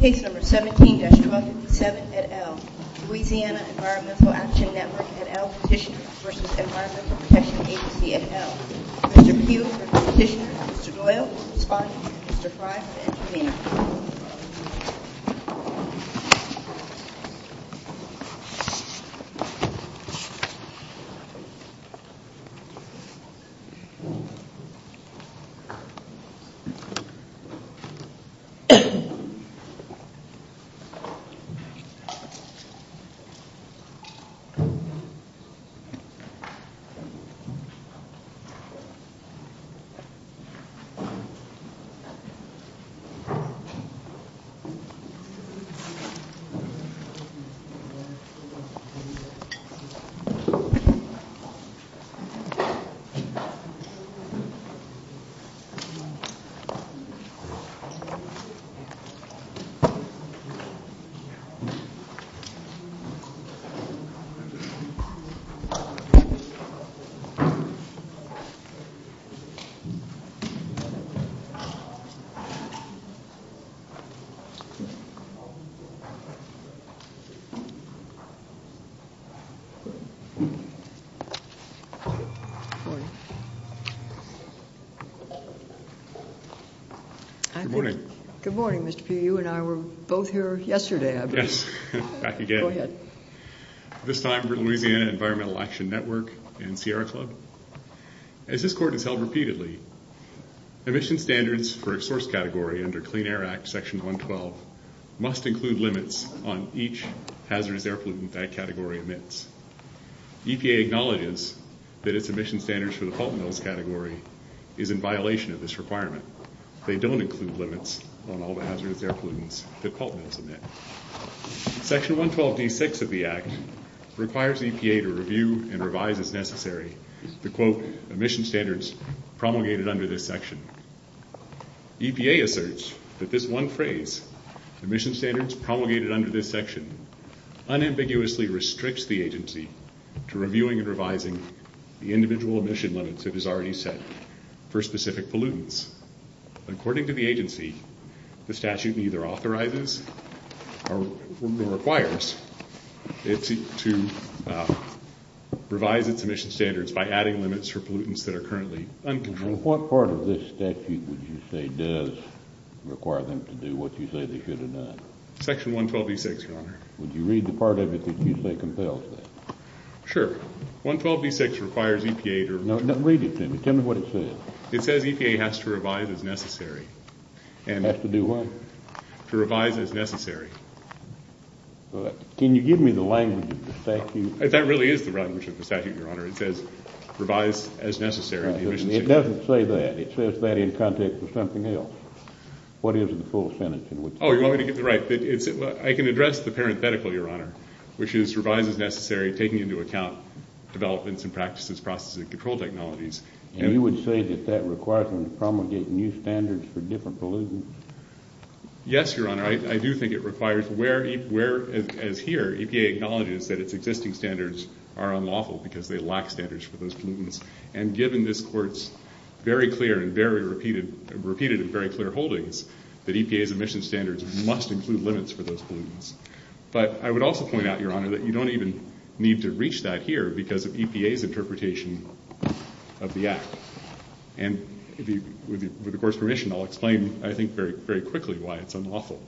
at L. Mr. Pugh for Petitioner, Mr. Doyle for Respondent, Mr. Frye for Intervener. Mr. Pugh for Petitioner, Mr. Frye for Intervener. Mr. Pugh for Petitioner, Mr. Frye for Intervener. Good morning. Good morning, Mr. Pugh. You and I were both here yesterday, I believe. Yes, back again. Go ahead. This time for Louisiana Environmental Action Network and Sierra Club. As this Court has held repeatedly, emission standards for a source category under Clean Air Act Section 112 must include limits on each hazardous air pollutant that category emits. EPA acknowledges that its emission standards for the pulp mills category is in violation of this requirement. They don't include limits on all hazardous air pollutants that pulp mills emit. Section 112d6 of the Act requires EPA to review and revise as necessary the, quote, emission standards promulgated under this section. EPA asserts that this one phrase, emission standards promulgated under this section, unambiguously restricts the agency to reviewing and revising the individual emission limits that is already set for specific pollutants. According to the agency, the statute neither authorizes nor requires it to revise its emission standards by adding limits for pollutants that are currently uncontrolled. And what part of this statute would you say does require them to do what you say they should have done? Section 112d6, Your Honor. Would you read the part of it that you say compels that? Sure. 112d6 requires EPA to review. No, read it to me. Tell me what it says. It says EPA has to revise as necessary. Has to do what? To revise as necessary. Can you give me the language of the statute? That really is the language of the statute, Your Honor. It says revise as necessary the emission standards. It doesn't say that. It says that in context of something else. What is the full sentence? Oh, you want me to get the right? I can address the parenthetical, Your Honor, which is revise as necessary taking into account developments and practices, processes, and control technologies. And you would say that that requires them to promulgate new standards for different pollutants? Yes, Your Honor. I do think it requires where, as here, EPA acknowledges that its existing standards are unlawful because they lack standards for those pollutants. And given this Court's very clear and very repeated and very clear holdings, that EPA's emission standards must include limits for those pollutants. But I would also point out, Your Honor, that you don't even need to reach that here because of EPA's interpretation of the Act. And with the Court's permission, I'll explain, I think, very quickly why it's unlawful.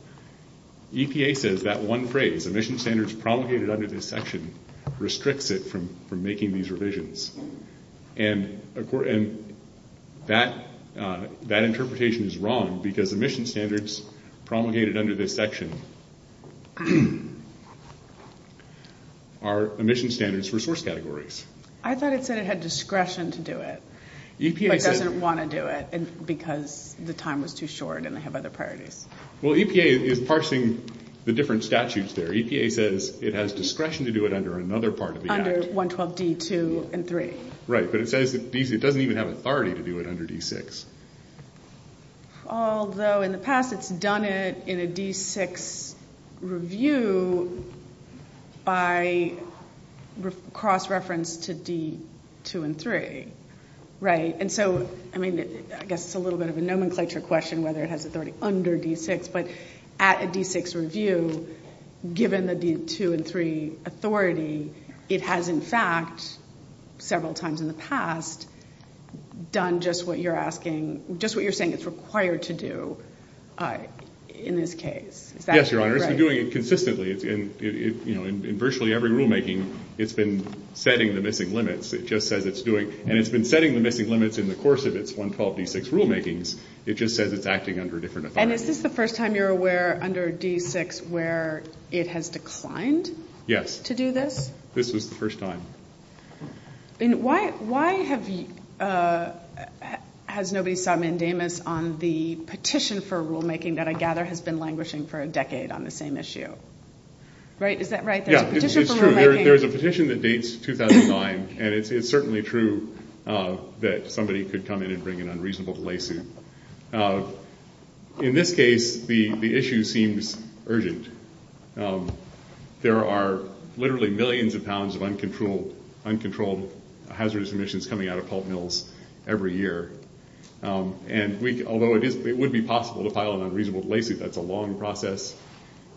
EPA says that one phrase, emission standards promulgated under this section, restricts it from making these revisions. And that interpretation is wrong because emission standards promulgated under this section are emission standards for source categories. I thought it said it had discretion to do it but doesn't want to do it because the time was too short and they have other priorities. Well, EPA is parsing the different statutes there. EPA says it has discretion to do it under another part of the Act. Under 112D2 and 3. Right. But it says it doesn't even have authority to do it under D6. Although in the past it's done it in a D6 review by cross-reference to D2 and 3. Right. And so, I mean, I guess it's a little bit of a nomenclature question whether it has authority under D6. But at a D6 review, given the D2 and 3 authority, it has, in fact, several times in the past, done just what you're saying it's required to do in this case. Is that correct? Yes, Your Honor. It's been doing it consistently. In virtually every rulemaking, it's been setting the missing limits. It just says it's doing it. And it's been setting the missing limits in the course of its 112D6 rulemakings. It just says it's acting under a different authority. And is this the first time you're aware under D6 where it has declined to do this? Yes. This was the first time. And why has nobody sought mandamus on the petition for rulemaking that I gather has been languishing for a decade on the same issue? Is that right? There's a petition for rulemaking. Yeah, it's true. There's a petition that dates 2009, and it's certainly true that somebody could come in and bring an unreasonable delay suit. In this case, the issue seems urgent. There are literally millions of pounds of uncontrolled hazardous emissions coming out of pulp mills every year. Although it would be possible to file an unreasonable delay suit, that's a long process.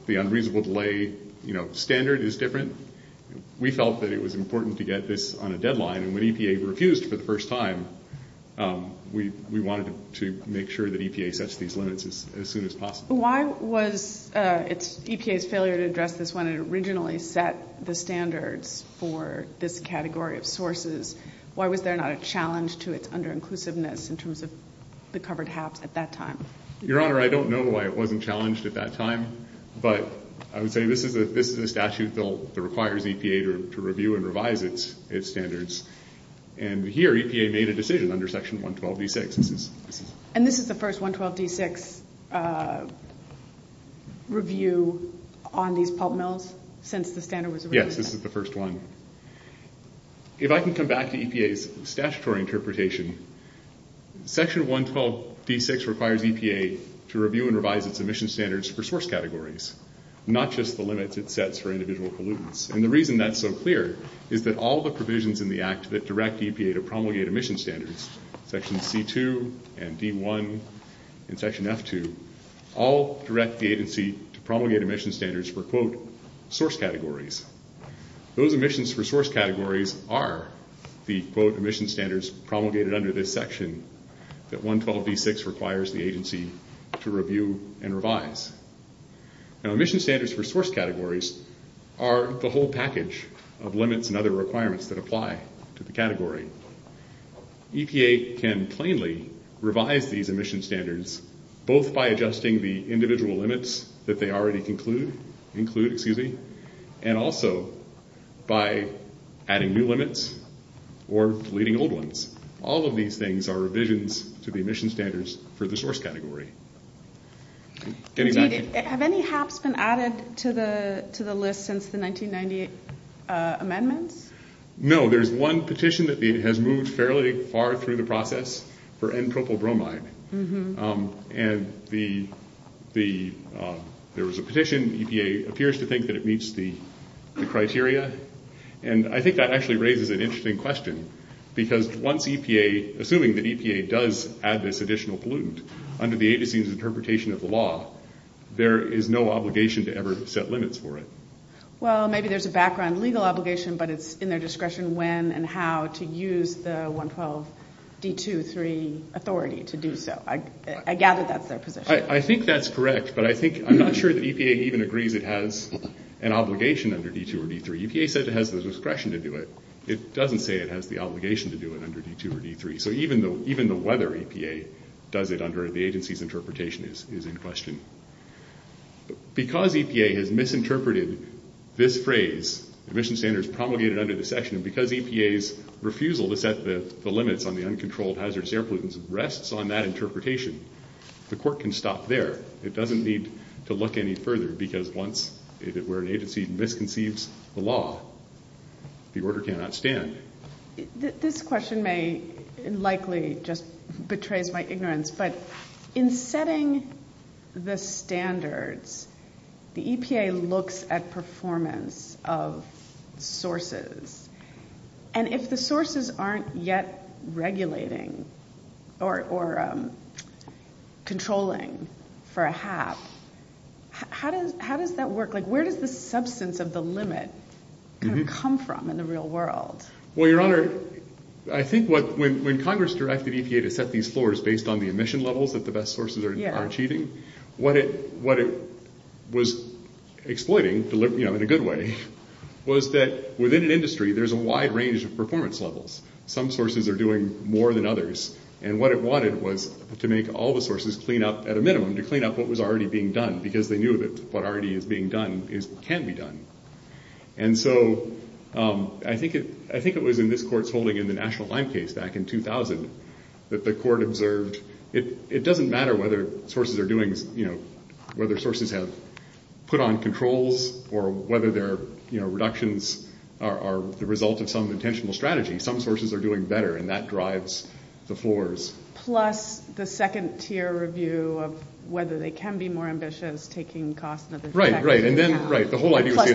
The unreasonable delay standard is different. We felt that it was important to get this on a deadline, and when EPA refused for the first time, we wanted to make sure that EPA sets these limits as soon as possible. Why was EPA's failure to address this when it originally set the standards for this category of sources? Why was there not a challenge to its under-inclusiveness in terms of the covered HAPS at that time? Your Honor, I don't know why it wasn't challenged at that time, but I would say this is a statute that requires EPA to review and revise its standards, and here EPA made a decision under Section 112D6. And this is the first 112D6 review on these pulp mills since the standard was released? Yes, this is the first one. If I can come back to EPA's statutory interpretation, Section 112D6 requires EPA to review and revise its emission standards for source categories, not just the limits it sets for individual pollutants. And the reason that's so clear is that all the provisions in the Act that direct EPA to promulgate emission standards, Sections C2 and D1 and Section F2, all direct the agency to promulgate emission standards for, quote, source categories. Those emissions for source categories are the, quote, emission standards promulgated under this section that 112D6 requires the agency to review and revise. Now, emission standards for source categories are the whole package of limits and other requirements that apply to the category. EPA can plainly revise these emission standards both by adjusting the individual limits that they already include and also by adding new limits or deleting old ones. All of these things are revisions to the emission standards for the source category. Have any HAPs been added to the list since the 1998 amendments? No. There's one petition that has moved fairly far through the process for n-propyl bromide. And there was a petition. EPA appears to think that it meets the criteria. And I think that actually raises an interesting question because once EPA, assuming that EPA does add this additional pollutant under the agency's interpretation of the law, there is no obligation to ever set limits for it. Well, maybe there's a background legal obligation, but it's in their discretion when and how to use the 112-D2-3 authority to do so. I gather that's their position. I think that's correct, but I'm not sure that EPA even agrees it has an obligation under D2 or D3. EPA said it has the discretion to do it. It doesn't say it has the obligation to do it under D2 or D3. So even the whether EPA does it under the agency's interpretation is in question. Because EPA has misinterpreted this phrase, emission standards promulgated under the section, and because EPA's refusal to set the limits on the uncontrolled hazardous air pollutants rests on that interpretation, the court can stop there. It doesn't need to look any further because once, if it were an agency, misconceives the law, the order cannot stand. This question may likely just betray my ignorance, but in setting the standards, the EPA looks at performance of sources, and if the sources aren't yet regulating or controlling for a half, how does that work? Like where does the substance of the limit come from in the real world? Well, Your Honor, I think when Congress directed EPA to set these floors based on the emission levels that the best sources are achieving, what it was exploiting, you know, in a good way, was that within an industry there's a wide range of performance levels. Some sources are doing more than others, and what it wanted was to make all the sources clean up at a minimum, to clean up what was already being done, because they knew that what already is being done can be done. And so I think it was in this Court's holding in the National Lime Case back in 2000 that the Court observed it doesn't matter whether sources are doing, you know, whether sources have put on controls or whether their reductions are the result of some intentional strategy. Some sources are doing better, and that drives the floors. Plus the second-tier review of whether they can be more ambitious, taking costs and other factors into account. Right, right, and then the whole idea was to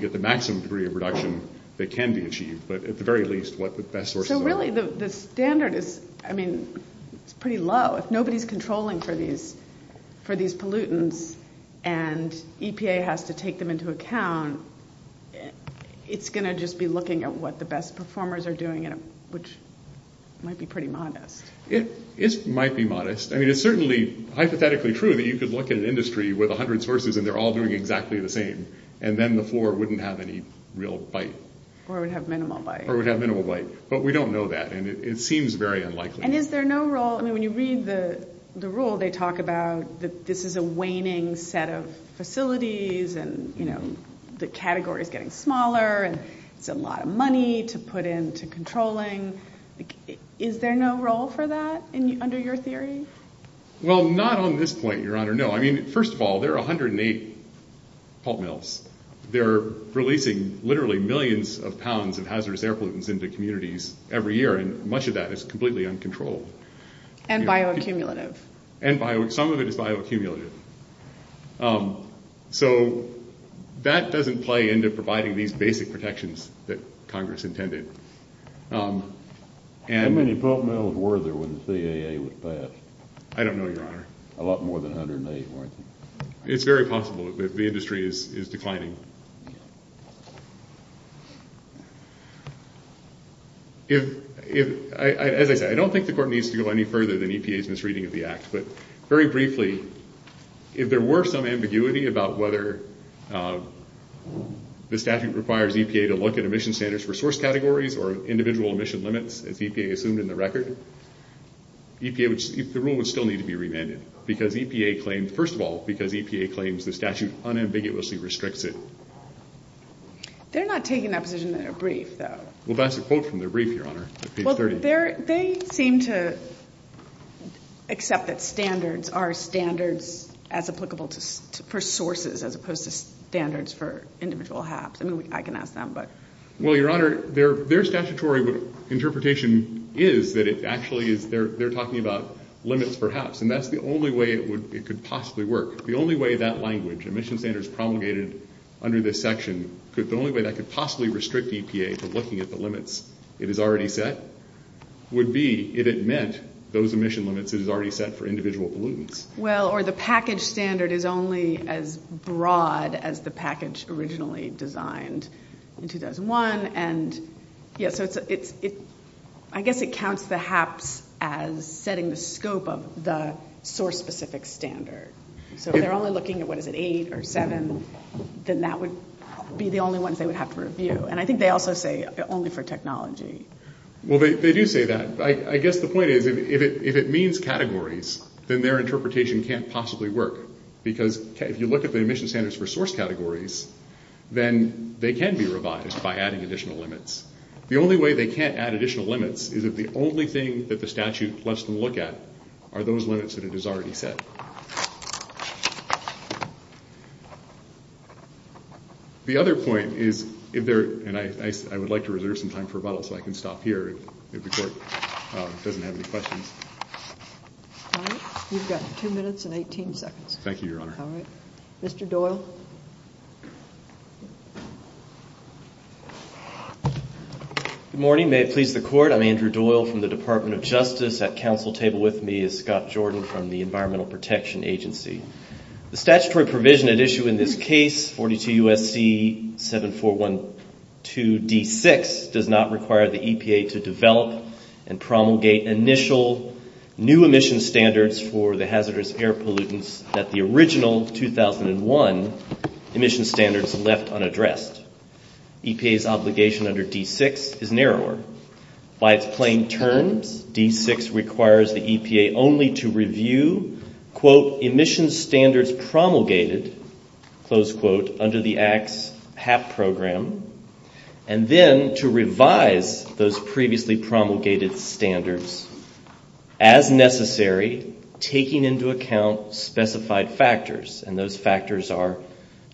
get the maximum degree of reduction that can be achieved, but at the very least what the best sources are. So really the standard is, I mean, it's pretty low. If nobody's controlling for these pollutants and EPA has to take them into account, it's going to just be looking at what the best performers are doing, which might be pretty modest. It might be modest. I mean, it's certainly hypothetically true that you could look at an industry with 100 sources and they're all doing exactly the same, and then the floor wouldn't have any real bite. Or would have minimal bite. Or would have minimal bite. But we don't know that, and it seems very unlikely. And is there no role, I mean, when you read the rule, they talk about that this is a waning set of facilities and, you know, the category is getting smaller and it's a lot of money to put into controlling. Is there no role for that under your theory? Well, not on this point, Your Honor, no. I mean, first of all, there are 108 pulp mills. They're releasing literally millions of pounds of hazardous air pollutants into communities every year, and much of that is completely uncontrolled. And bioaccumulative. Some of it is bioaccumulative. So that doesn't play into providing these basic protections that Congress intended. How many pulp mills were there when the CAA was passed? I don't know, Your Honor. A lot more than 108, weren't there? It's very possible that the industry is declining. As I said, I don't think the Court needs to go any further than EPA's misreading of the Act. But very briefly, if there were some ambiguity about whether the statute requires EPA to look at emission standards for source categories or individual emission limits, as EPA assumed in the record, the rule would still need to be remanded. First of all, because EPA claims the statute unambiguously restricts it. They're not taking that position in their brief, though. Well, that's a quote from their brief, Your Honor, page 30. Well, they seem to accept that standards are standards as applicable for sources as opposed to standards for individual HAPs. I mean, I can ask them. Well, Your Honor, their statutory interpretation is that it actually is. They're talking about limits for HAPs, and that's the only way it could possibly work. The only way that language, emission standards promulgated under this section, the only way that could possibly restrict EPA to looking at the limits it has already set, would be if it meant those emission limits it has already set for individual pollutants. Well, or the package standard is only as broad as the package originally designed in 2001. And, yes, I guess it counts the HAPs as setting the scope of the source-specific standard. So if they're only looking at, what is it, eight or seven, then that would be the only ones they would have to review. And I think they also say only for technology. Well, they do say that. I guess the point is, if it means categories, then their interpretation can't possibly work. Because if you look at the emission standards for source categories, then they can be revised by adding additional limits. The only way they can't add additional limits is if the only thing that the statute lets them look at are those limits that it has already set. The other point is, and I would like to reserve some time for rebuttal, so I can stop here if the Court doesn't have any questions. All right. You've got two minutes and 18 seconds. Thank you, Your Honor. All right. Mr. Doyle. Good morning. May it please the Court, I'm Andrew Doyle from the Department of Justice. At council table with me is Scott Jordan from the Environmental Protection Agency. The statutory provision at issue in this case, 42 U.S.C. 7412 D-6, does not require the EPA to develop and promulgate initial new emission standards for the hazardous air pollutants that the original 2001 emission standards left unaddressed. EPA's obligation under D-6 is narrower. By its plain terms, D-6 requires the EPA only to review, quote, emission standards promulgated, close quote, under the ACTS HAP program, and then to revise those previously promulgated standards as necessary, taking into account specified factors, and those factors are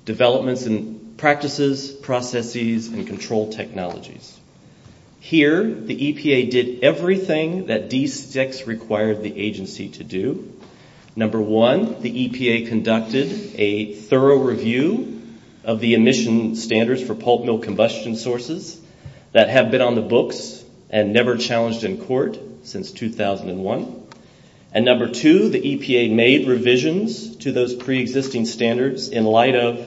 developments in practices, processes, and control technologies. Here, the EPA did everything that D-6 required the agency to do. Number one, the EPA conducted a thorough review of the emission standards for pulp mill combustion sources that have been on the books and never challenged in court since 2001. And number two, the EPA made revisions to those preexisting standards in light of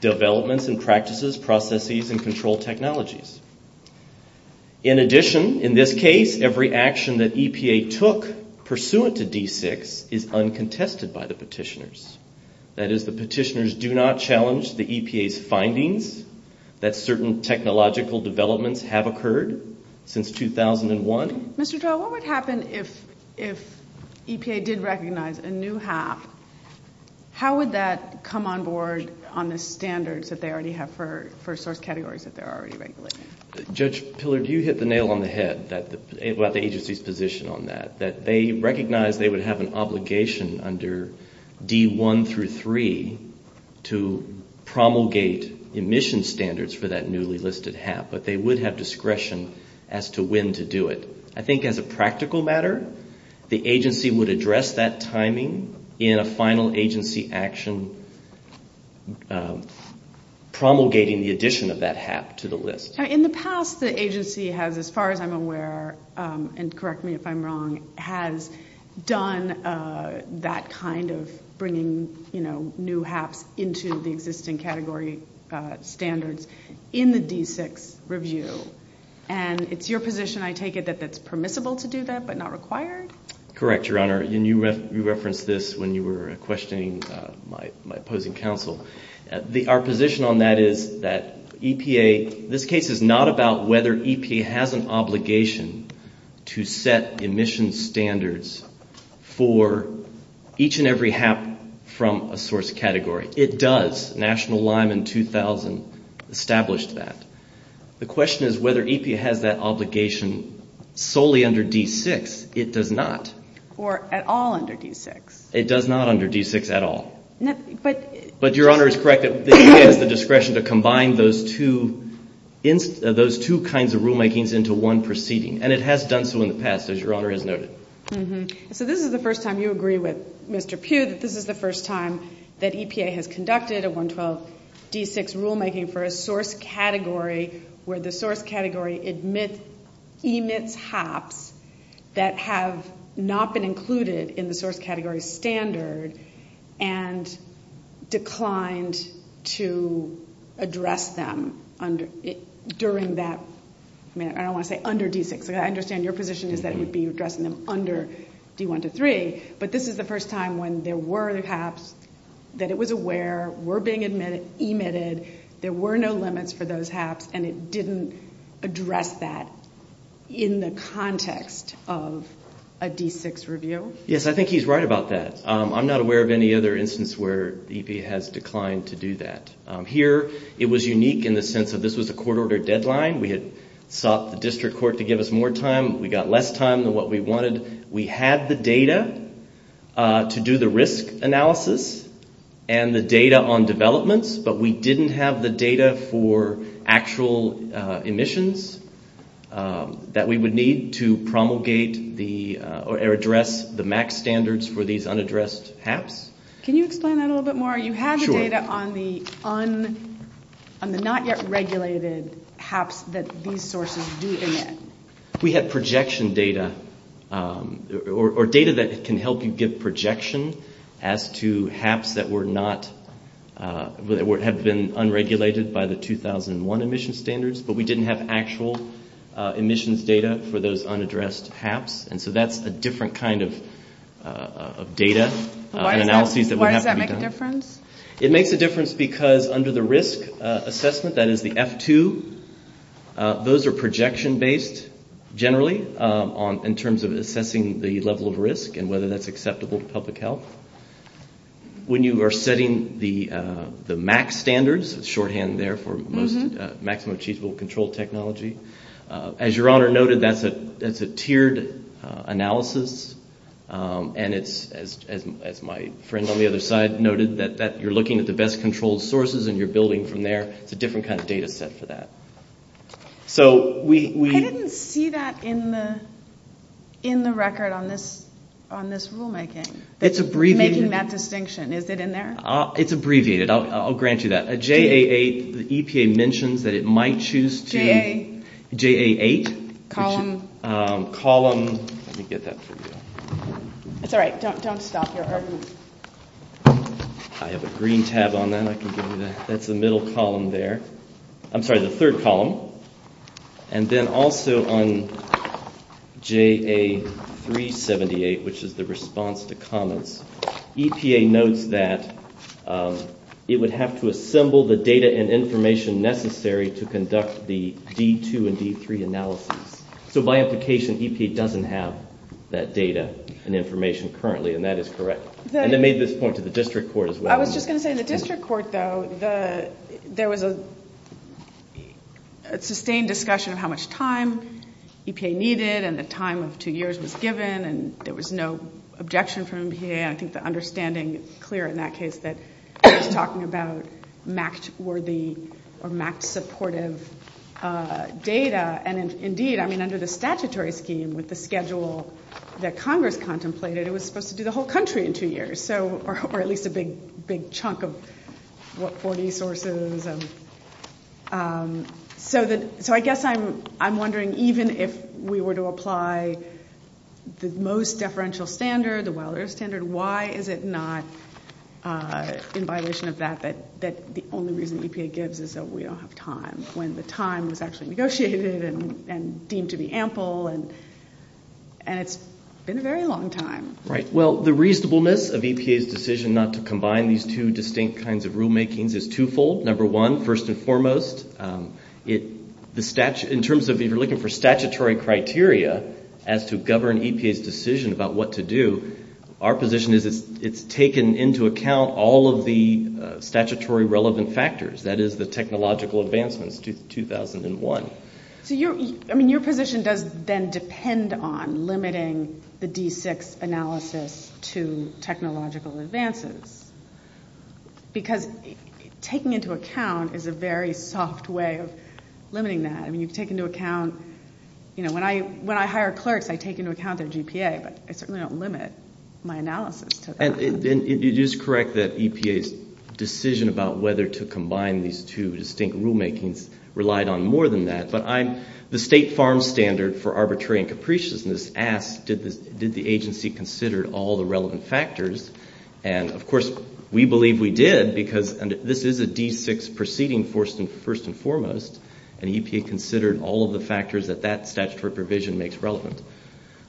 developments in practices, processes, and control technologies. In addition, in this case, every action that EPA took pursuant to D-6 is uncontested by the petitioners. That is, the petitioners do not challenge the EPA's findings that certain technological developments have occurred since 2001. Mr. Doyle, what would happen if EPA did recognize a new HAP? How would that come on board on the standards that they already have for source categories that they're already regulating? Judge Pillar, you hit the nail on the head about the agency's position on that, that they recognize they would have an obligation under D-1 through 3 to promulgate emission standards for that newly listed HAP, but they would have discretion as to when to do it. I think as a practical matter, the agency would address that timing in a final agency action promulgating the addition of that HAP to the list. In the past, the agency has, as far as I'm aware, and correct me if I'm wrong, has done that kind of bringing new HAPs into the existing category standards in the D-6 review. And it's your position, I take it, that that's permissible to do that but not required? Correct, Your Honor. And you referenced this when you were questioning my opposing counsel. Our position on that is that EPA, this case is not about whether EPA has an obligation to set emission standards for each and every HAP from a source category. It does. National LIME in 2000 established that. The question is whether EPA has that obligation solely under D-6. It does not. Or at all under D-6. It does not under D-6 at all. But Your Honor is correct that EPA has the discretion to combine those two kinds of rulemakings into one proceeding, and it has done so in the past, as Your Honor has noted. So this is the first time you agree with Mr. Pugh that this is the first time that EPA has conducted a 112 D-6 rulemaking for a source category where the source category emits HAPs that have not been included in the source category standard and declined to address them during that, I don't want to say under D-6. I understand your position is that it would be addressing them under D-1 to 3, but this is the first time when there were HAPs that it was aware were being emitted, there were no limits for those HAPs, and it didn't address that in the context of a D-6 review? Yes, I think he's right about that. I'm not aware of any other instance where EPA has declined to do that. Here, it was unique in the sense that this was a court-ordered deadline. We had sought the district court to give us more time. We got less time than what we wanted. We had the data to do the risk analysis and the data on developments, but we didn't have the data for actual emissions that we would need to promulgate or address the MAC standards for these unaddressed HAPs. Can you explain that a little bit more? You had the data on the not yet regulated HAPs that these sources do emit? We had projection data or data that can help you give projection as to HAPs that have been unregulated by the 2001 emission standards, but we didn't have actual emissions data for those unaddressed HAPs, and so that's a different kind of data and analyses that would have to be done. Why does that make a difference? It makes a difference because under the risk assessment, that is the F-2, those are projection-based generally in terms of assessing the level of risk and whether that's acceptable to public health. When you are setting the MAC standards, it's shorthand there for maximum achievable control technology. As Your Honor noted, that's a tiered analysis, and as my friend on the other side noted, that you're looking at the best controlled sources and you're building from there. It's a different kind of data set for that. I didn't see that in the record on this rulemaking, making that distinction. Is it in there? It's abbreviated. I'll grant you that. J.A. 8, the EPA mentions that it might choose to... J.A. J.A. 8. Column. Column. Let me get that for you. It's all right. Don't stop your argument. I have a green tab on that. I can give you that. That's the middle column there. I'm sorry, the third column. And then also on J.A. 378, which is the response to comments, EPA notes that it would have to assemble the data and information necessary to conduct the D2 and D3 analysis. So by implication, EPA doesn't have that data and information currently, and that is correct. And it made this point to the district court as well. I was just going to say, in the district court, though, there was a sustained discussion of how much time EPA needed and the time of two years was given, and there was no objection from EPA. I think the understanding is clear in that case that it was talking about MACT-worthy or MACT-supportive data. And indeed, I mean, under the statutory scheme, with the schedule that Congress contemplated, it was supposed to do the whole country in two years, or at least a big chunk of, what, 40 sources. So I guess I'm wondering, even if we were to apply the most deferential standard, the well-earth standard, why is it not, in violation of that, that the only reason EPA gives is that we don't have time, when the time was actually negotiated and deemed to be ample, and it's been a very long time. Right. Well, the reasonableness of EPA's decision not to combine these two distinct kinds of rulemakings is twofold. Number one, first and foremost, in terms of if you're looking for statutory criteria as to govern EPA's decision about what to do, our position is it's taken into account all of the statutory relevant factors, that is, the technological advancements to 2001. So your position does then depend on limiting the D6 analysis to technological advances, because taking into account is a very soft way of limiting that. I mean, you take into account, you know, when I hire clerks, I take into account their GPA, but I certainly don't limit my analysis to that. And it is correct that EPA's decision about whether to combine these two distinct rulemakings relied on more than that, but the state farm standard for arbitrary and capriciousness asked, did the agency consider all the relevant factors, and of course we believe we did because this is a D6 proceeding first and foremost, and EPA considered all of the factors that that statutory provision makes relevant.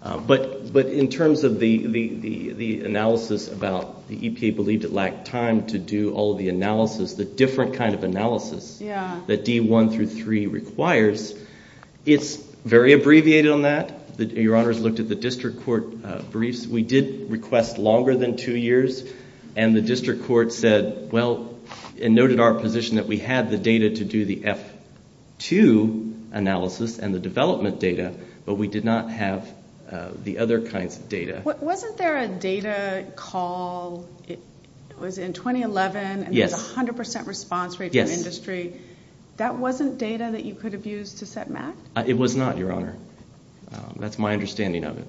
But in terms of the analysis about the EPA believed it lacked time to do all of the analysis, the different kind of analysis that D1 through 3 requires, it's very abbreviated on that. Your Honors looked at the district court briefs. We did request longer than two years, and the district court said, well, and noted our position that we had the data to do the F2 analysis and the development data, but we did not have the other kinds of data. Wasn't there a data call, it was in 2011, and there was a 100% response rate for industry. That wasn't data that you could have used to set MAC? It was not, Your Honor. That's my understanding of it.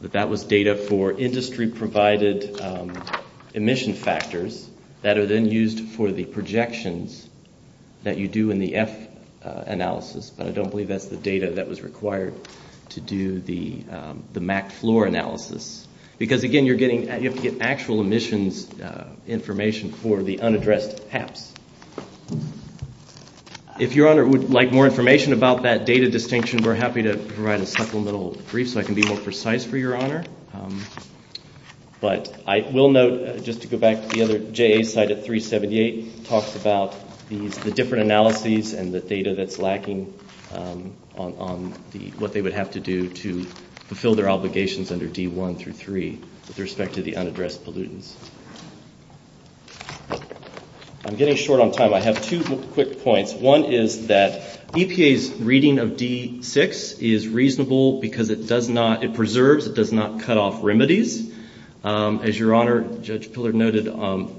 But that was data for industry-provided emission factors that are then used for the projections that you do in the F analysis, but I don't believe that's the data that was required to do the MAC floor analysis. Because, again, you have to get actual emissions information for the unaddressed HAPs. If Your Honor would like more information about that data distinction, we're happy to provide a supplemental brief so I can be more precise for Your Honor. But I will note, just to go back to the other JA side at 378, talks about the different analyses and the data that's lacking on what they would have to do to fulfill their obligations under D1 through 3 with respect to the unaddressed pollutants. I'm getting short on time. I have two quick points. One is that EPA's reading of D6 is reasonable because it does not, it preserves, it does not cut off remedies. As Your Honor, Judge Pillard noted,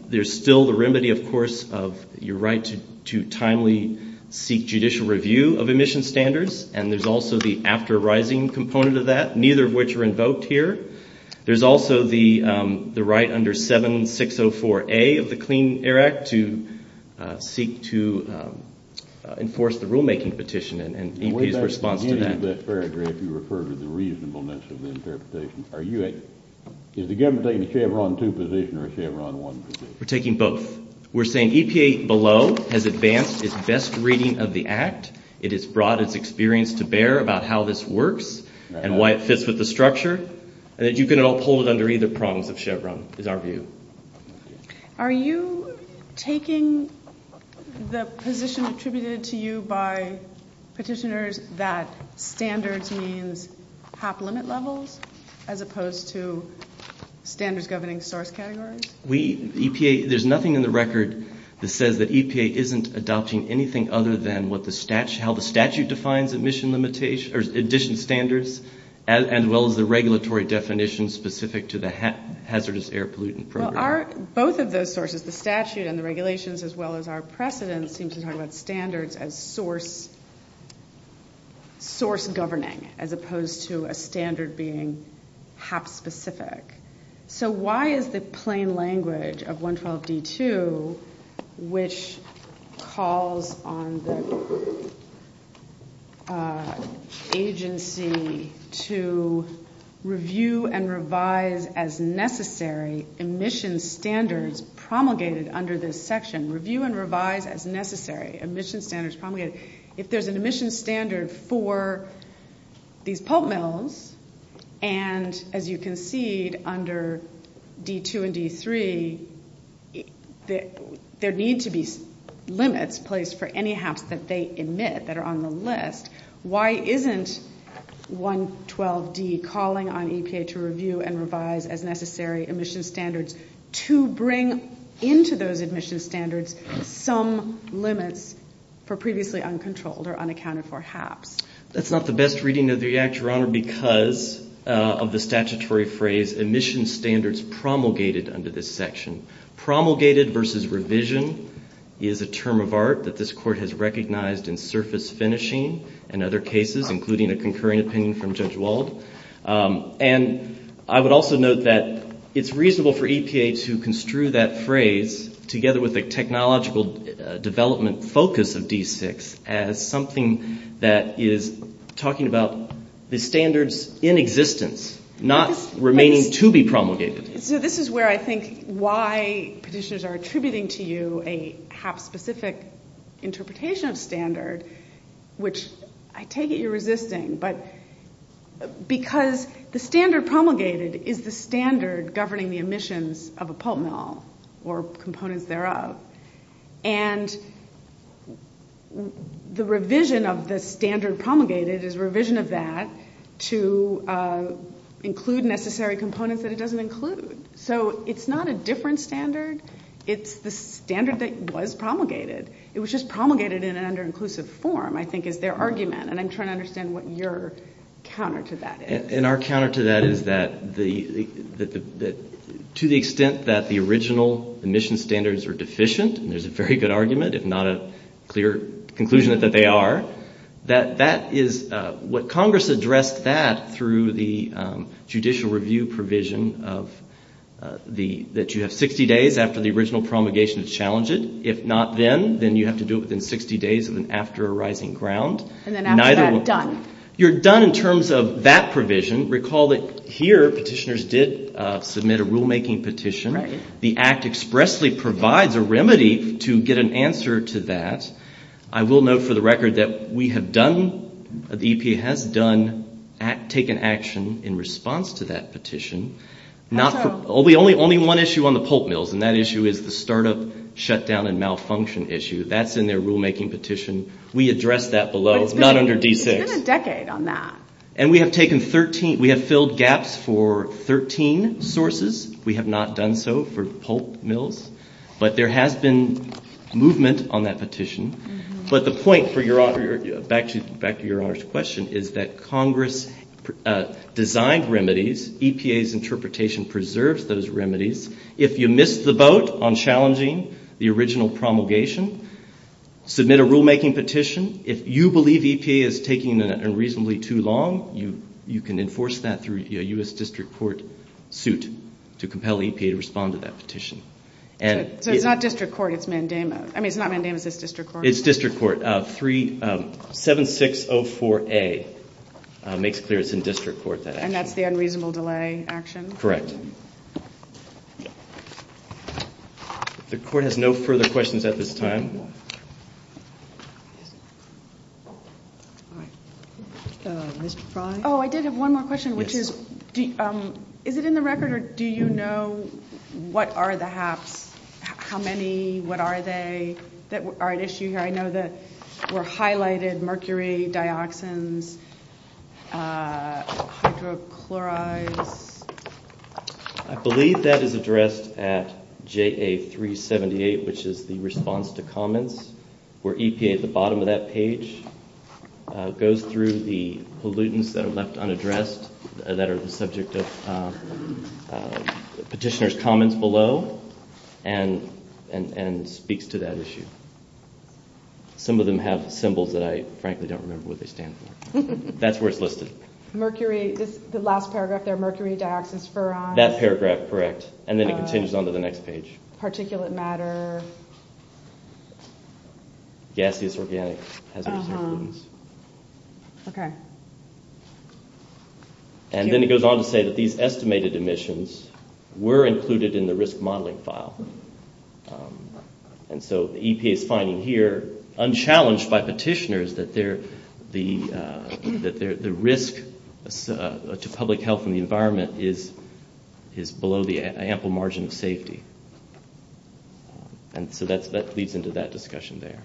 there's still the remedy, of course, of your right to timely seek judicial review of emission standards, and there's also the after arising component of that, neither of which are invoked here. There's also the right under 7604A of the Clean Air Act to seek to enforce the rulemaking petition and EPA's response to that. At the end of that paragraph, you referred to the reasonableness of the interpretation. Is the government taking a Chevron 2 position or a Chevron 1 position? We're taking both. We're saying EPA below has advanced its best reading of the act. It has brought its experience to bear about how this works and why it fits with the structure. And that you can uphold it under either prongs of Chevron is our view. Are you taking the position attributed to you by petitioners that standards means HAP limit levels as opposed to standards governing source categories? We, EPA, there's nothing in the record that says that EPA isn't adopting anything other than what the statute, how the statute defines emission limitation, or emission standards, as well as the regulatory definition specific to the hazardous air pollutant program. Well, both of those sources, the statute and the regulations, as well as our precedents, seem to talk about standards as source governing as opposed to a standard being HAP specific. So why is the plain language of 112D2, which calls on the agency to review and revise as necessary emission standards promulgated under this section, review and revise as necessary emission standards promulgated, if there's an emission standard for these pulp mills and, as you concede, under D2 and D3, there need to be limits placed for any HAPs that they emit that are on the list, why isn't 112D calling on EPA to review and revise as necessary emission standards to bring into those emission standards some limits for previously uncontrolled or unaccounted-for HAPs? That's not the best reading of the Act, Your Honor, because of the statutory phrase emission standards promulgated under this section. Promulgated versus revision is a term of art that this Court has recognized in surface finishing and other cases, including a concurring opinion from Judge Wald. And I would also note that it's reasonable for EPA to construe that phrase, together with the technological development focus of D6, as something that is talking about the standards in existence, not remaining to be promulgated. So this is where I think why petitioners are attributing to you a HAP-specific interpretation of standard, which I take it you're resisting, but because the standard promulgated is the standard governing the emissions of a pulp mill or components thereof, and the revision of the standard promulgated is a revision of that to include necessary components that it doesn't include. So it's not a different standard, it's the standard that was promulgated. It was just promulgated in an under-inclusive form, I think, is their argument, and I'm trying to understand what your counter to that is. And our counter to that is that to the extent that the original emission standards are deficient, and there's a very good argument, if not a clear conclusion that they are, that that is what Congress addressed that through the judicial review provision that you have 60 days after the original promulgation to challenge it. If not then, then you have to do it within 60 days after a rising ground. And then after that, done. You're done in terms of that provision. Recall that here petitioners did submit a rulemaking petition. The Act expressly provides a remedy to get an answer to that. I will note for the record that we have done, the EPA has done, taken action in response to that petition. Only one issue on the pulp mills, and that issue is the startup shutdown and malfunction issue. That's in their rulemaking petition. We addressed that below, not under D6. But it's been a decade on that. And we have taken 13, we have filled gaps for 13 sources. We have not done so for pulp mills. But there has been movement on that petition. But the point, back to your Honor's question, is that Congress designed remedies, EPA's interpretation preserves those remedies. If you missed the boat on challenging the original promulgation, submit a rulemaking petition. If you believe EPA is taking it unreasonably too long, you can enforce that through a U.S. District Court suit to compel EPA to respond to that petition. So it's not District Court, it's Mandama. I mean, it's not Mandama, it's District Court. It's District Court. 7604A makes clear it's in District Court. And that's the unreasonable delay action? Correct. The Court has no further questions at this time. Oh, I did have one more question, which is, is it in the record or do you know what are the HAPs? How many? What are they that are at issue here? I know that were highlighted mercury, dioxins, hydrochlorides. I believe that is addressed at JA378, which is the response to comments, where EPA at the bottom of that page goes through the pollutants that are left unaddressed, that are the subject of petitioner's comments below, and speaks to that issue. Some of them have symbols that I frankly don't remember what they stand for. That's where it's listed. The last paragraph there, mercury, dioxins, ferrons. That paragraph, correct. And then it continues on to the next page. Particulate matter. Gaseous organic hazardous pollutants. Okay. And then it goes on to say that these estimated emissions were included in the risk modeling file. And so EPA is finding here, unchallenged by petitioners, that the risk to public health and the environment is below the ample margin of safety. And so that leads into that discussion there.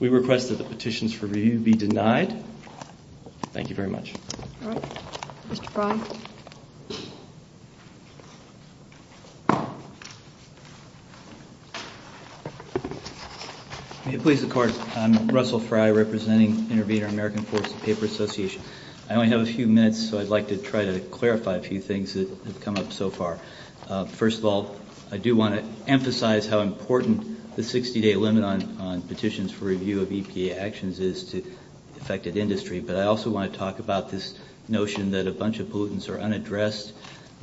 We request that the petitions for review be denied. Thank you very much. All right. Mr. Fry. May it please the Court. I'm Russell Fry, representing Intervenor American Forest Paper Association. I only have a few minutes, so I'd like to try to clarify a few things that have come up so far. First of all, I do want to emphasize how important the 60-day limit on petitions for review of EPA actions is to the affected industry. But I also want to talk about this notion that a bunch of pollutants are unaddressed,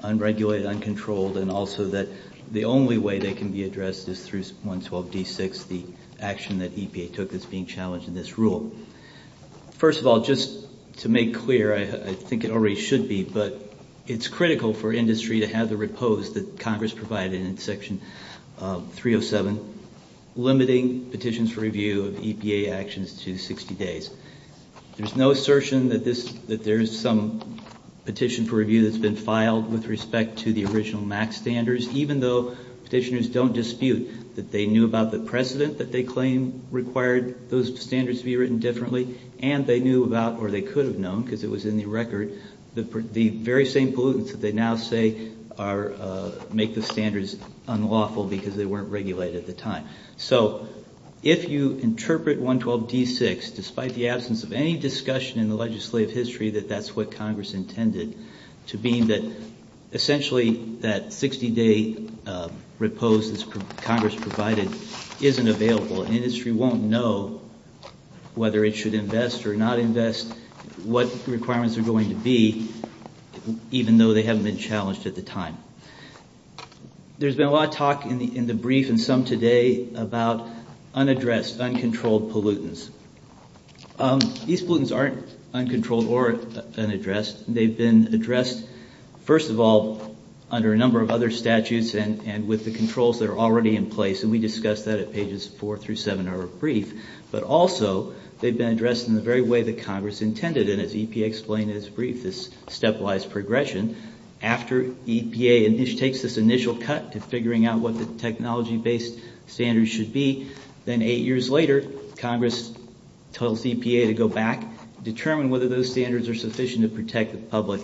unregulated, uncontrolled, and also that the only way they can be addressed is through 112D6, the action that EPA took that's being challenged in this rule. First of all, just to make clear, I think it already should be, but it's critical for industry to have the repose that Congress provided in Section 307, limiting petitions for review of EPA actions to 60 days. There's no assertion that there's some petition for review that's been filed with respect to the original MAC standards, even though petitioners don't dispute that they knew about the precedent that they claim required those standards to be written differently, and they knew about, or they could have known because it was in the record, the very same pollutants that they now say make the standards unlawful because they weren't regulated at the time. So if you interpret 112D6, despite the absence of any discussion in the legislative history that that's what Congress intended, to be that essentially that 60-day repose that Congress provided isn't available. Industry won't know whether it should invest or not invest, what requirements are going to be, even though they haven't been challenged at the time. There's been a lot of talk in the brief and some today about unaddressed, uncontrolled pollutants. These pollutants aren't uncontrolled or unaddressed. They've been addressed, first of all, under a number of other statutes and with the controls that are already in place, and we discussed that at pages four through seven of our brief, but also they've been addressed in the very way that Congress intended, and as EPA explained in its brief, this stepwise progression after EPA takes this initial cut to figuring out what the technology-based standards should be, then eight years later, Congress tells EPA to go back, determine whether those standards are sufficient to protect the public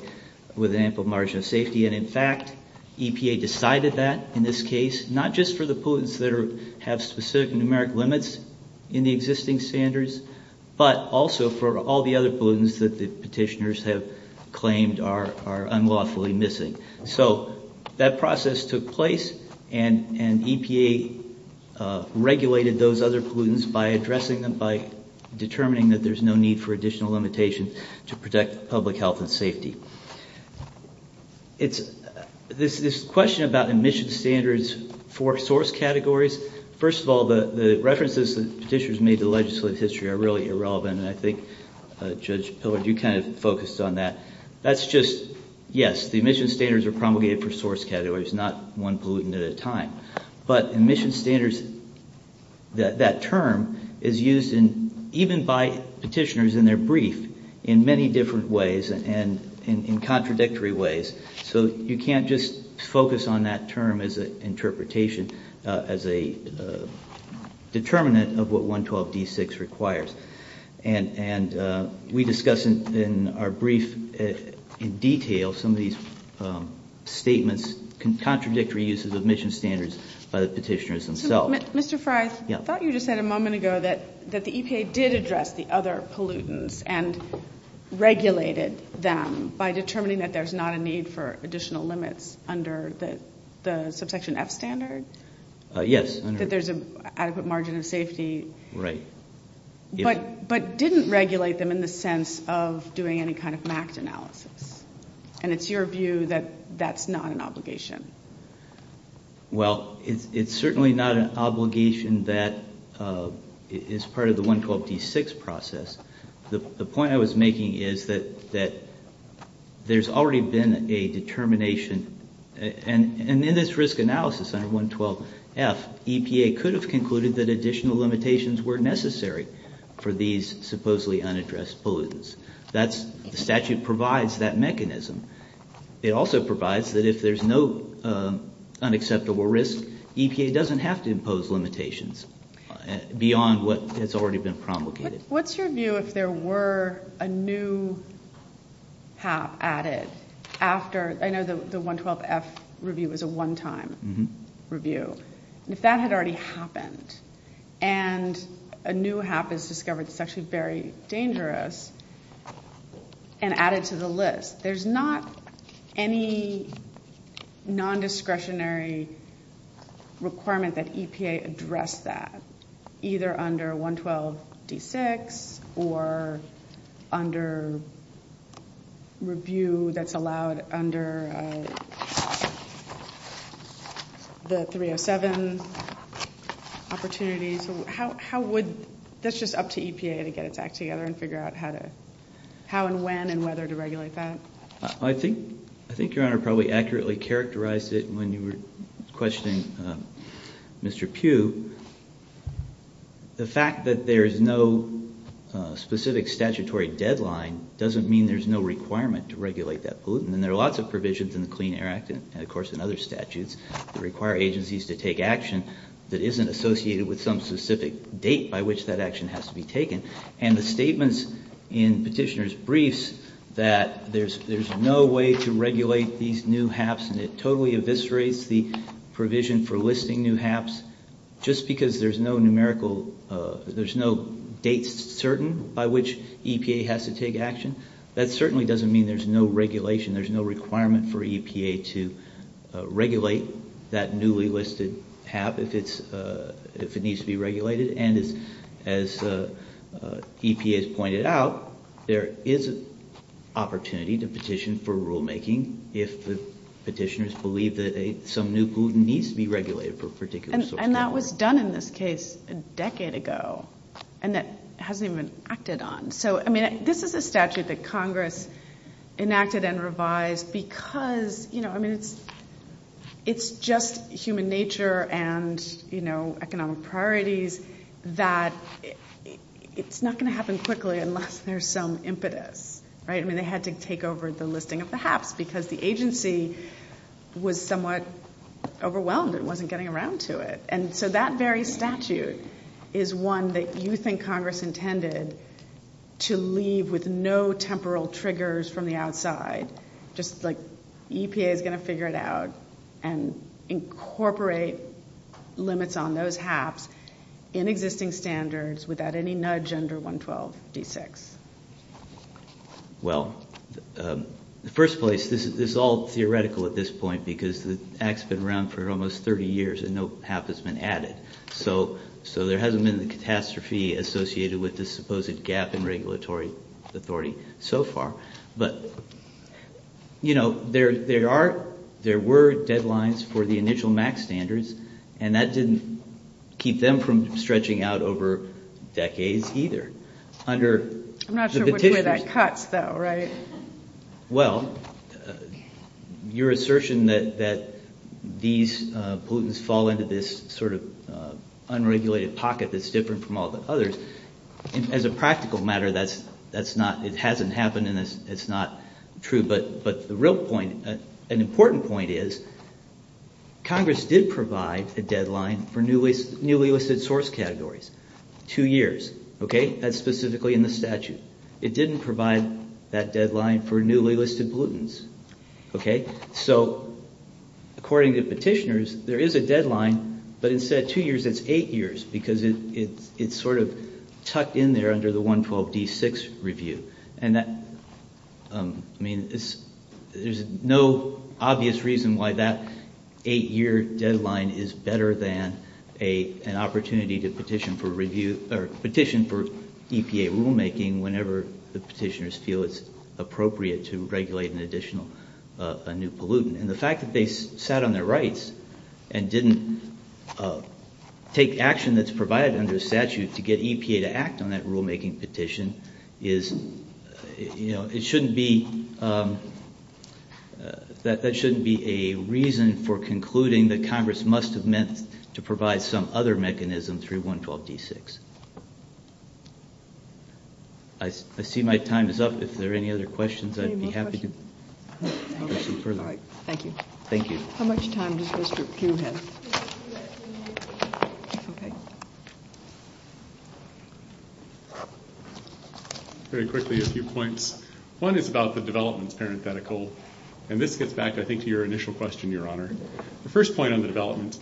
with an ample margin of safety, and in fact, EPA decided that in this case, not just for the pollutants that have specific numeric limits in the existing standards, but also for all the other pollutants that the petitioners have claimed are unlawfully missing. So that process took place, and EPA regulated those other pollutants by addressing them, by determining that there's no need for additional limitation to protect public health and safety. This question about emission standards for source categories, first of all, the references that petitioners made to legislative history are really irrelevant, and I think Judge Pillard, you kind of focused on that. That's just, yes, the emission standards are promulgated for source categories, not one pollutant at a time. But emission standards, that term is used even by petitioners in their brief in many different ways and in contradictory ways, so you can't just focus on that term as an interpretation, as a determinant of what 112D6 requires. And we discuss in our brief in detail some of these statements, contradictory uses of emission standards by the petitioners themselves. So, Mr. Frye, I thought you just said a moment ago that the EPA did address the other pollutants and regulated them by determining that there's not a need for additional limits under the subsection F standard? Yes. That there's an adequate margin of safety. Right. But didn't regulate them in the sense of doing any kind of MACT analysis, and it's your view that that's not an obligation? Well, it's certainly not an obligation that is part of the 112D6 process. The point I was making is that there's already been a determination, and in this risk analysis under 112F, EPA could have concluded that additional limitations were necessary for these supposedly unaddressed pollutants. The statute provides that mechanism. It also provides that if there's no unacceptable risk, EPA doesn't have to impose limitations beyond what has already been promulgated. What's your view if there were a new HAP added after? I know the 112F review was a one-time review. If that had already happened and a new HAP is discovered that's actually very dangerous and added to the list, there's not any nondiscretionary requirement that EPA address that, either under 112D6 or under review that's allowed under the 307 opportunities. That's just up to EPA to get its act together and figure out how and when and whether to regulate that? I think Your Honor probably accurately characterized it when you were questioning Mr. Pugh. The fact that there is no specific statutory deadline doesn't mean there's no requirement to regulate that pollutant, and there are lots of provisions in the Clean Air Act and, of course, in other statutes that require agencies to take action that isn't associated with some specific date by which that action has to be taken. And the statements in Petitioner's briefs that there's no way to regulate these new HAPs and it totally eviscerates the provision for listing new HAPs, just because there's no date certain by which EPA has to take action, that certainly doesn't mean there's no regulation. There's no requirement for EPA to regulate that newly listed HAP if it needs to be regulated. And as EPA has pointed out, there is an opportunity to petition for rulemaking if the petitioners believe that some new pollutant needs to be regulated for a particular source. And that was done in this case a decade ago, and that hasn't even acted on. So, I mean, this is a statute that Congress enacted and revised because, you know, I mean, it's just human nature and, you know, economic priorities that it's not going to happen quickly unless there's some impetus, right? I mean, they had to take over the listing of the HAPs because the agency was somewhat overwhelmed and wasn't getting around to it. And so that very statute is one that you think Congress intended to leave with no temporal triggers from the outside, just like EPA is going to figure it out and incorporate limits on those HAPs in existing standards without any nudge under 112-D6. Well, in the first place, this is all theoretical at this point because the act's been around for almost 30 years and no HAP has been added. So there hasn't been the catastrophe associated with this supposed gap in regulatory authority so far. But, you know, there were deadlines for the initial MAC standards, and that didn't keep them from stretching out over decades either. I'm not sure which way that cuts, though, right? Well, your assertion that these pollutants fall into this sort of unregulated pocket that's different from all the others, as a practical matter, it hasn't happened and it's not true. But the real point, an important point, is Congress did provide a deadline for newly listed source categories, two years. Okay? That's specifically in the statute. It didn't provide that deadline for newly listed pollutants. Okay? So according to petitioners, there is a deadline, but instead of two years, it's eight years because it's sort of tucked in there under the 112-D6 review. And that, I mean, there's no obvious reason why that eight-year deadline is better than an opportunity to petition for review whenever the petitioners feel it's appropriate to regulate an additional, a new pollutant. And the fact that they sat on their rights and didn't take action that's provided under the statute to get EPA to act on that rulemaking petition is, you know, it shouldn't be, that shouldn't be a reason for concluding that Congress must have meant to provide some other mechanism through 112-D6. I see my time is up. If there are any other questions, I'd be happy to go some further. Okay. All right. Thank you. Thank you. How much time does Mr. Pugh have? Okay. Very quickly, a few points. One is about the developments parenthetical, and this gets back, I think, to your initial question, Your Honor. The first point on the development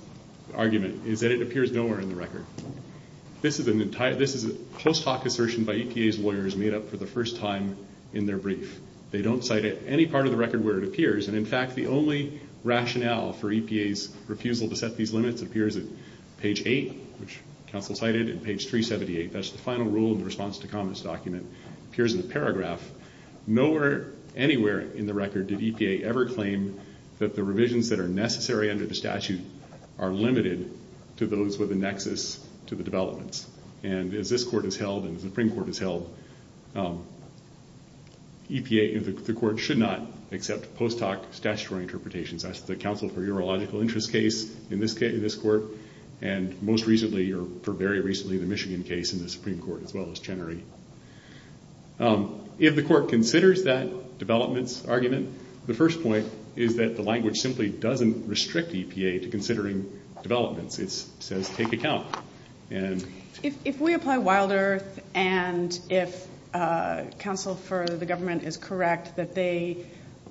argument is that it appears nowhere in the record. This is a close talk assertion by EPA's lawyers made up for the first time in their brief. They don't cite it any part of the record where it appears, and in fact, the only rationale for EPA's refusal to set these limits appears at page 8, which counsel cited, and page 378. That's the final rule in the response to comments document. It appears in the paragraph. Nowhere anywhere in the record did EPA ever claim that the revisions that are necessary under the statute are limited to those with a nexus to the developments. And as this court has held and the Supreme Court has held, the court should not accept post hoc statutory interpretations. That's the Council for Urological Interest case in this court, and most recently, or very recently, the Michigan case in the Supreme Court as well as Chenery. If the court considers that developments argument, the first point is that the language simply doesn't restrict EPA to considering developments. It says take account. If we apply Wild Earth and if counsel for the government is correct that they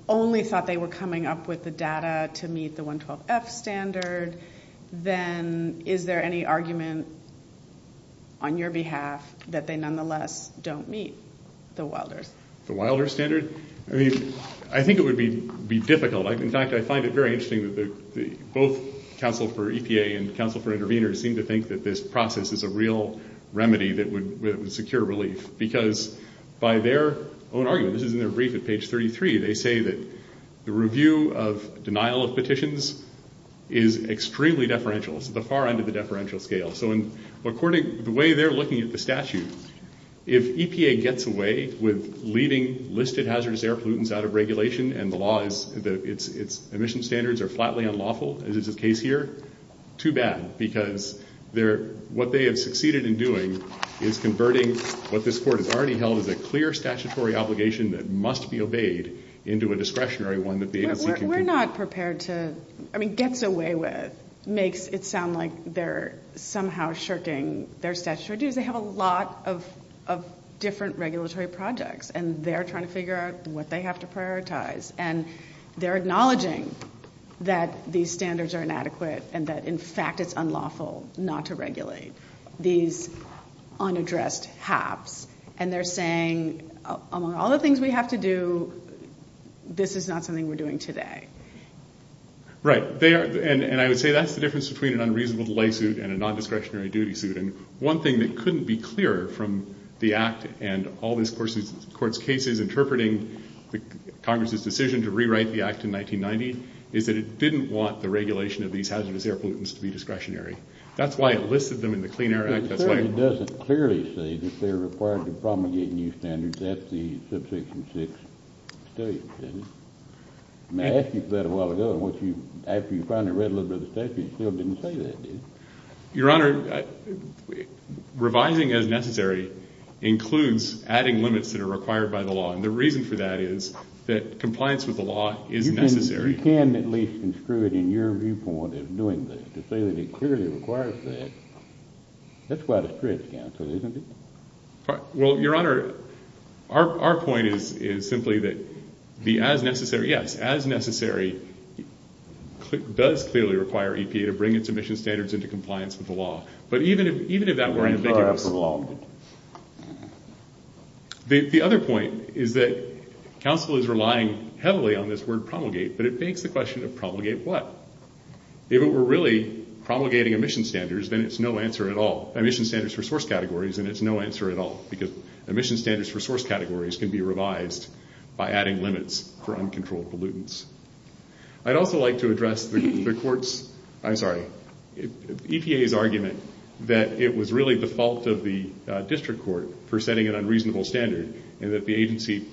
only thought they were coming up with the data to meet the 112F standard, then is there any argument on your behalf that they nonetheless don't meet the Wild Earth? The Wild Earth standard? I mean, I think it would be difficult. In fact, I find it very interesting that both counsel for EPA and counsel for intervenors seem to think that this process is a real remedy that would secure relief because by their own argument, this is in their brief at page 33, they say that the review of denial of petitions is extremely deferential. It's at the far end of the deferential scale. So according to the way they're looking at the statute, if EPA gets away with leaving listed hazardous air pollutants out of regulation and the law is that its emission standards are flatly unlawful, as is the case here, too bad because what they have succeeded in doing is converting what this court has already held as a clear statutory obligation that must be obeyed into a discretionary one. We're not prepared to—I mean, gets away with makes it sound like they're somehow shirking their statutory duties. They have a lot of different regulatory projects, and they're trying to figure out what they have to prioritize. And they're acknowledging that these standards are inadequate and that, in fact, it's unlawful not to regulate these unaddressed haps. And they're saying, among all the things we have to do, this is not something we're doing today. Right. And I would say that's the difference between an unreasonable delay suit and a nondiscretionary duty suit. And one thing that couldn't be clearer from the Act and all this court's cases interpreting Congress's decision to rewrite the Act in 1990 is that it didn't want the regulation of these hazardous air pollutants to be discretionary. That's why it listed them in the Clean Air Act. It doesn't clearly say that they're required to promulgate new standards. That's the Subsection 6 statute, isn't it? I mean, I asked you about it a while ago, and after you finally read a little bit of the statute, you still didn't say that, did you? Your Honor, revising as necessary includes adding limits that are required by the law, and the reason for that is that compliance with the law is necessary. You can at least construe it in your viewpoint of doing this to say that it clearly requires that. That's why the strips cancel, isn't it? Well, Your Honor, our point is simply that the as necessary, yes, as necessary does clearly require EPA to bring its emission standards into compliance with the law. But even if that were ambiguous, the other point is that counsel is relying heavily on this word promulgate, but it begs the question of promulgate what? If it were really promulgating emission standards, then it's no answer at all. Emission standards for source categories, then it's no answer at all, because emission standards for source categories can be revised by adding limits for uncontrolled pollutants. I'd also like to address the EPA's argument that it was really the fault of the district court for setting an unreasonable standard and that the agency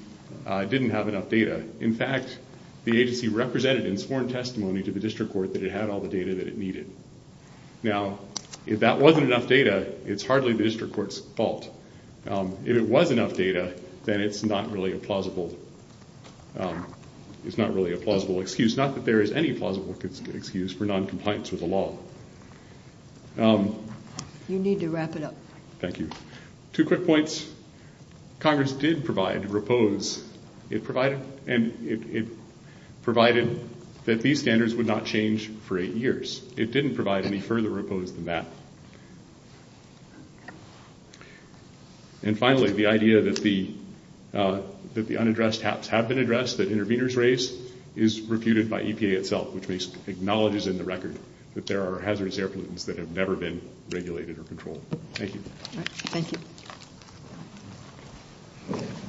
didn't have enough data. In fact, the agency represented in sworn testimony to the district court that it had all the data that it needed. Now, if that wasn't enough data, it's hardly the district court's fault. If it was enough data, then it's not really a plausible excuse. Not that there is any plausible excuse for noncompliance with the law. You need to wrap it up. Thank you. Two quick points. Congress did provide repose. It provided that these standards would not change for eight years. It didn't provide any further repose than that. And finally, the idea that the unaddressed HAPs have been addressed, that interveners raised, is reputed by EPA itself, which acknowledges in the record that there are hazardous air pollutants that have never been regulated or controlled. Thank you. Thank you.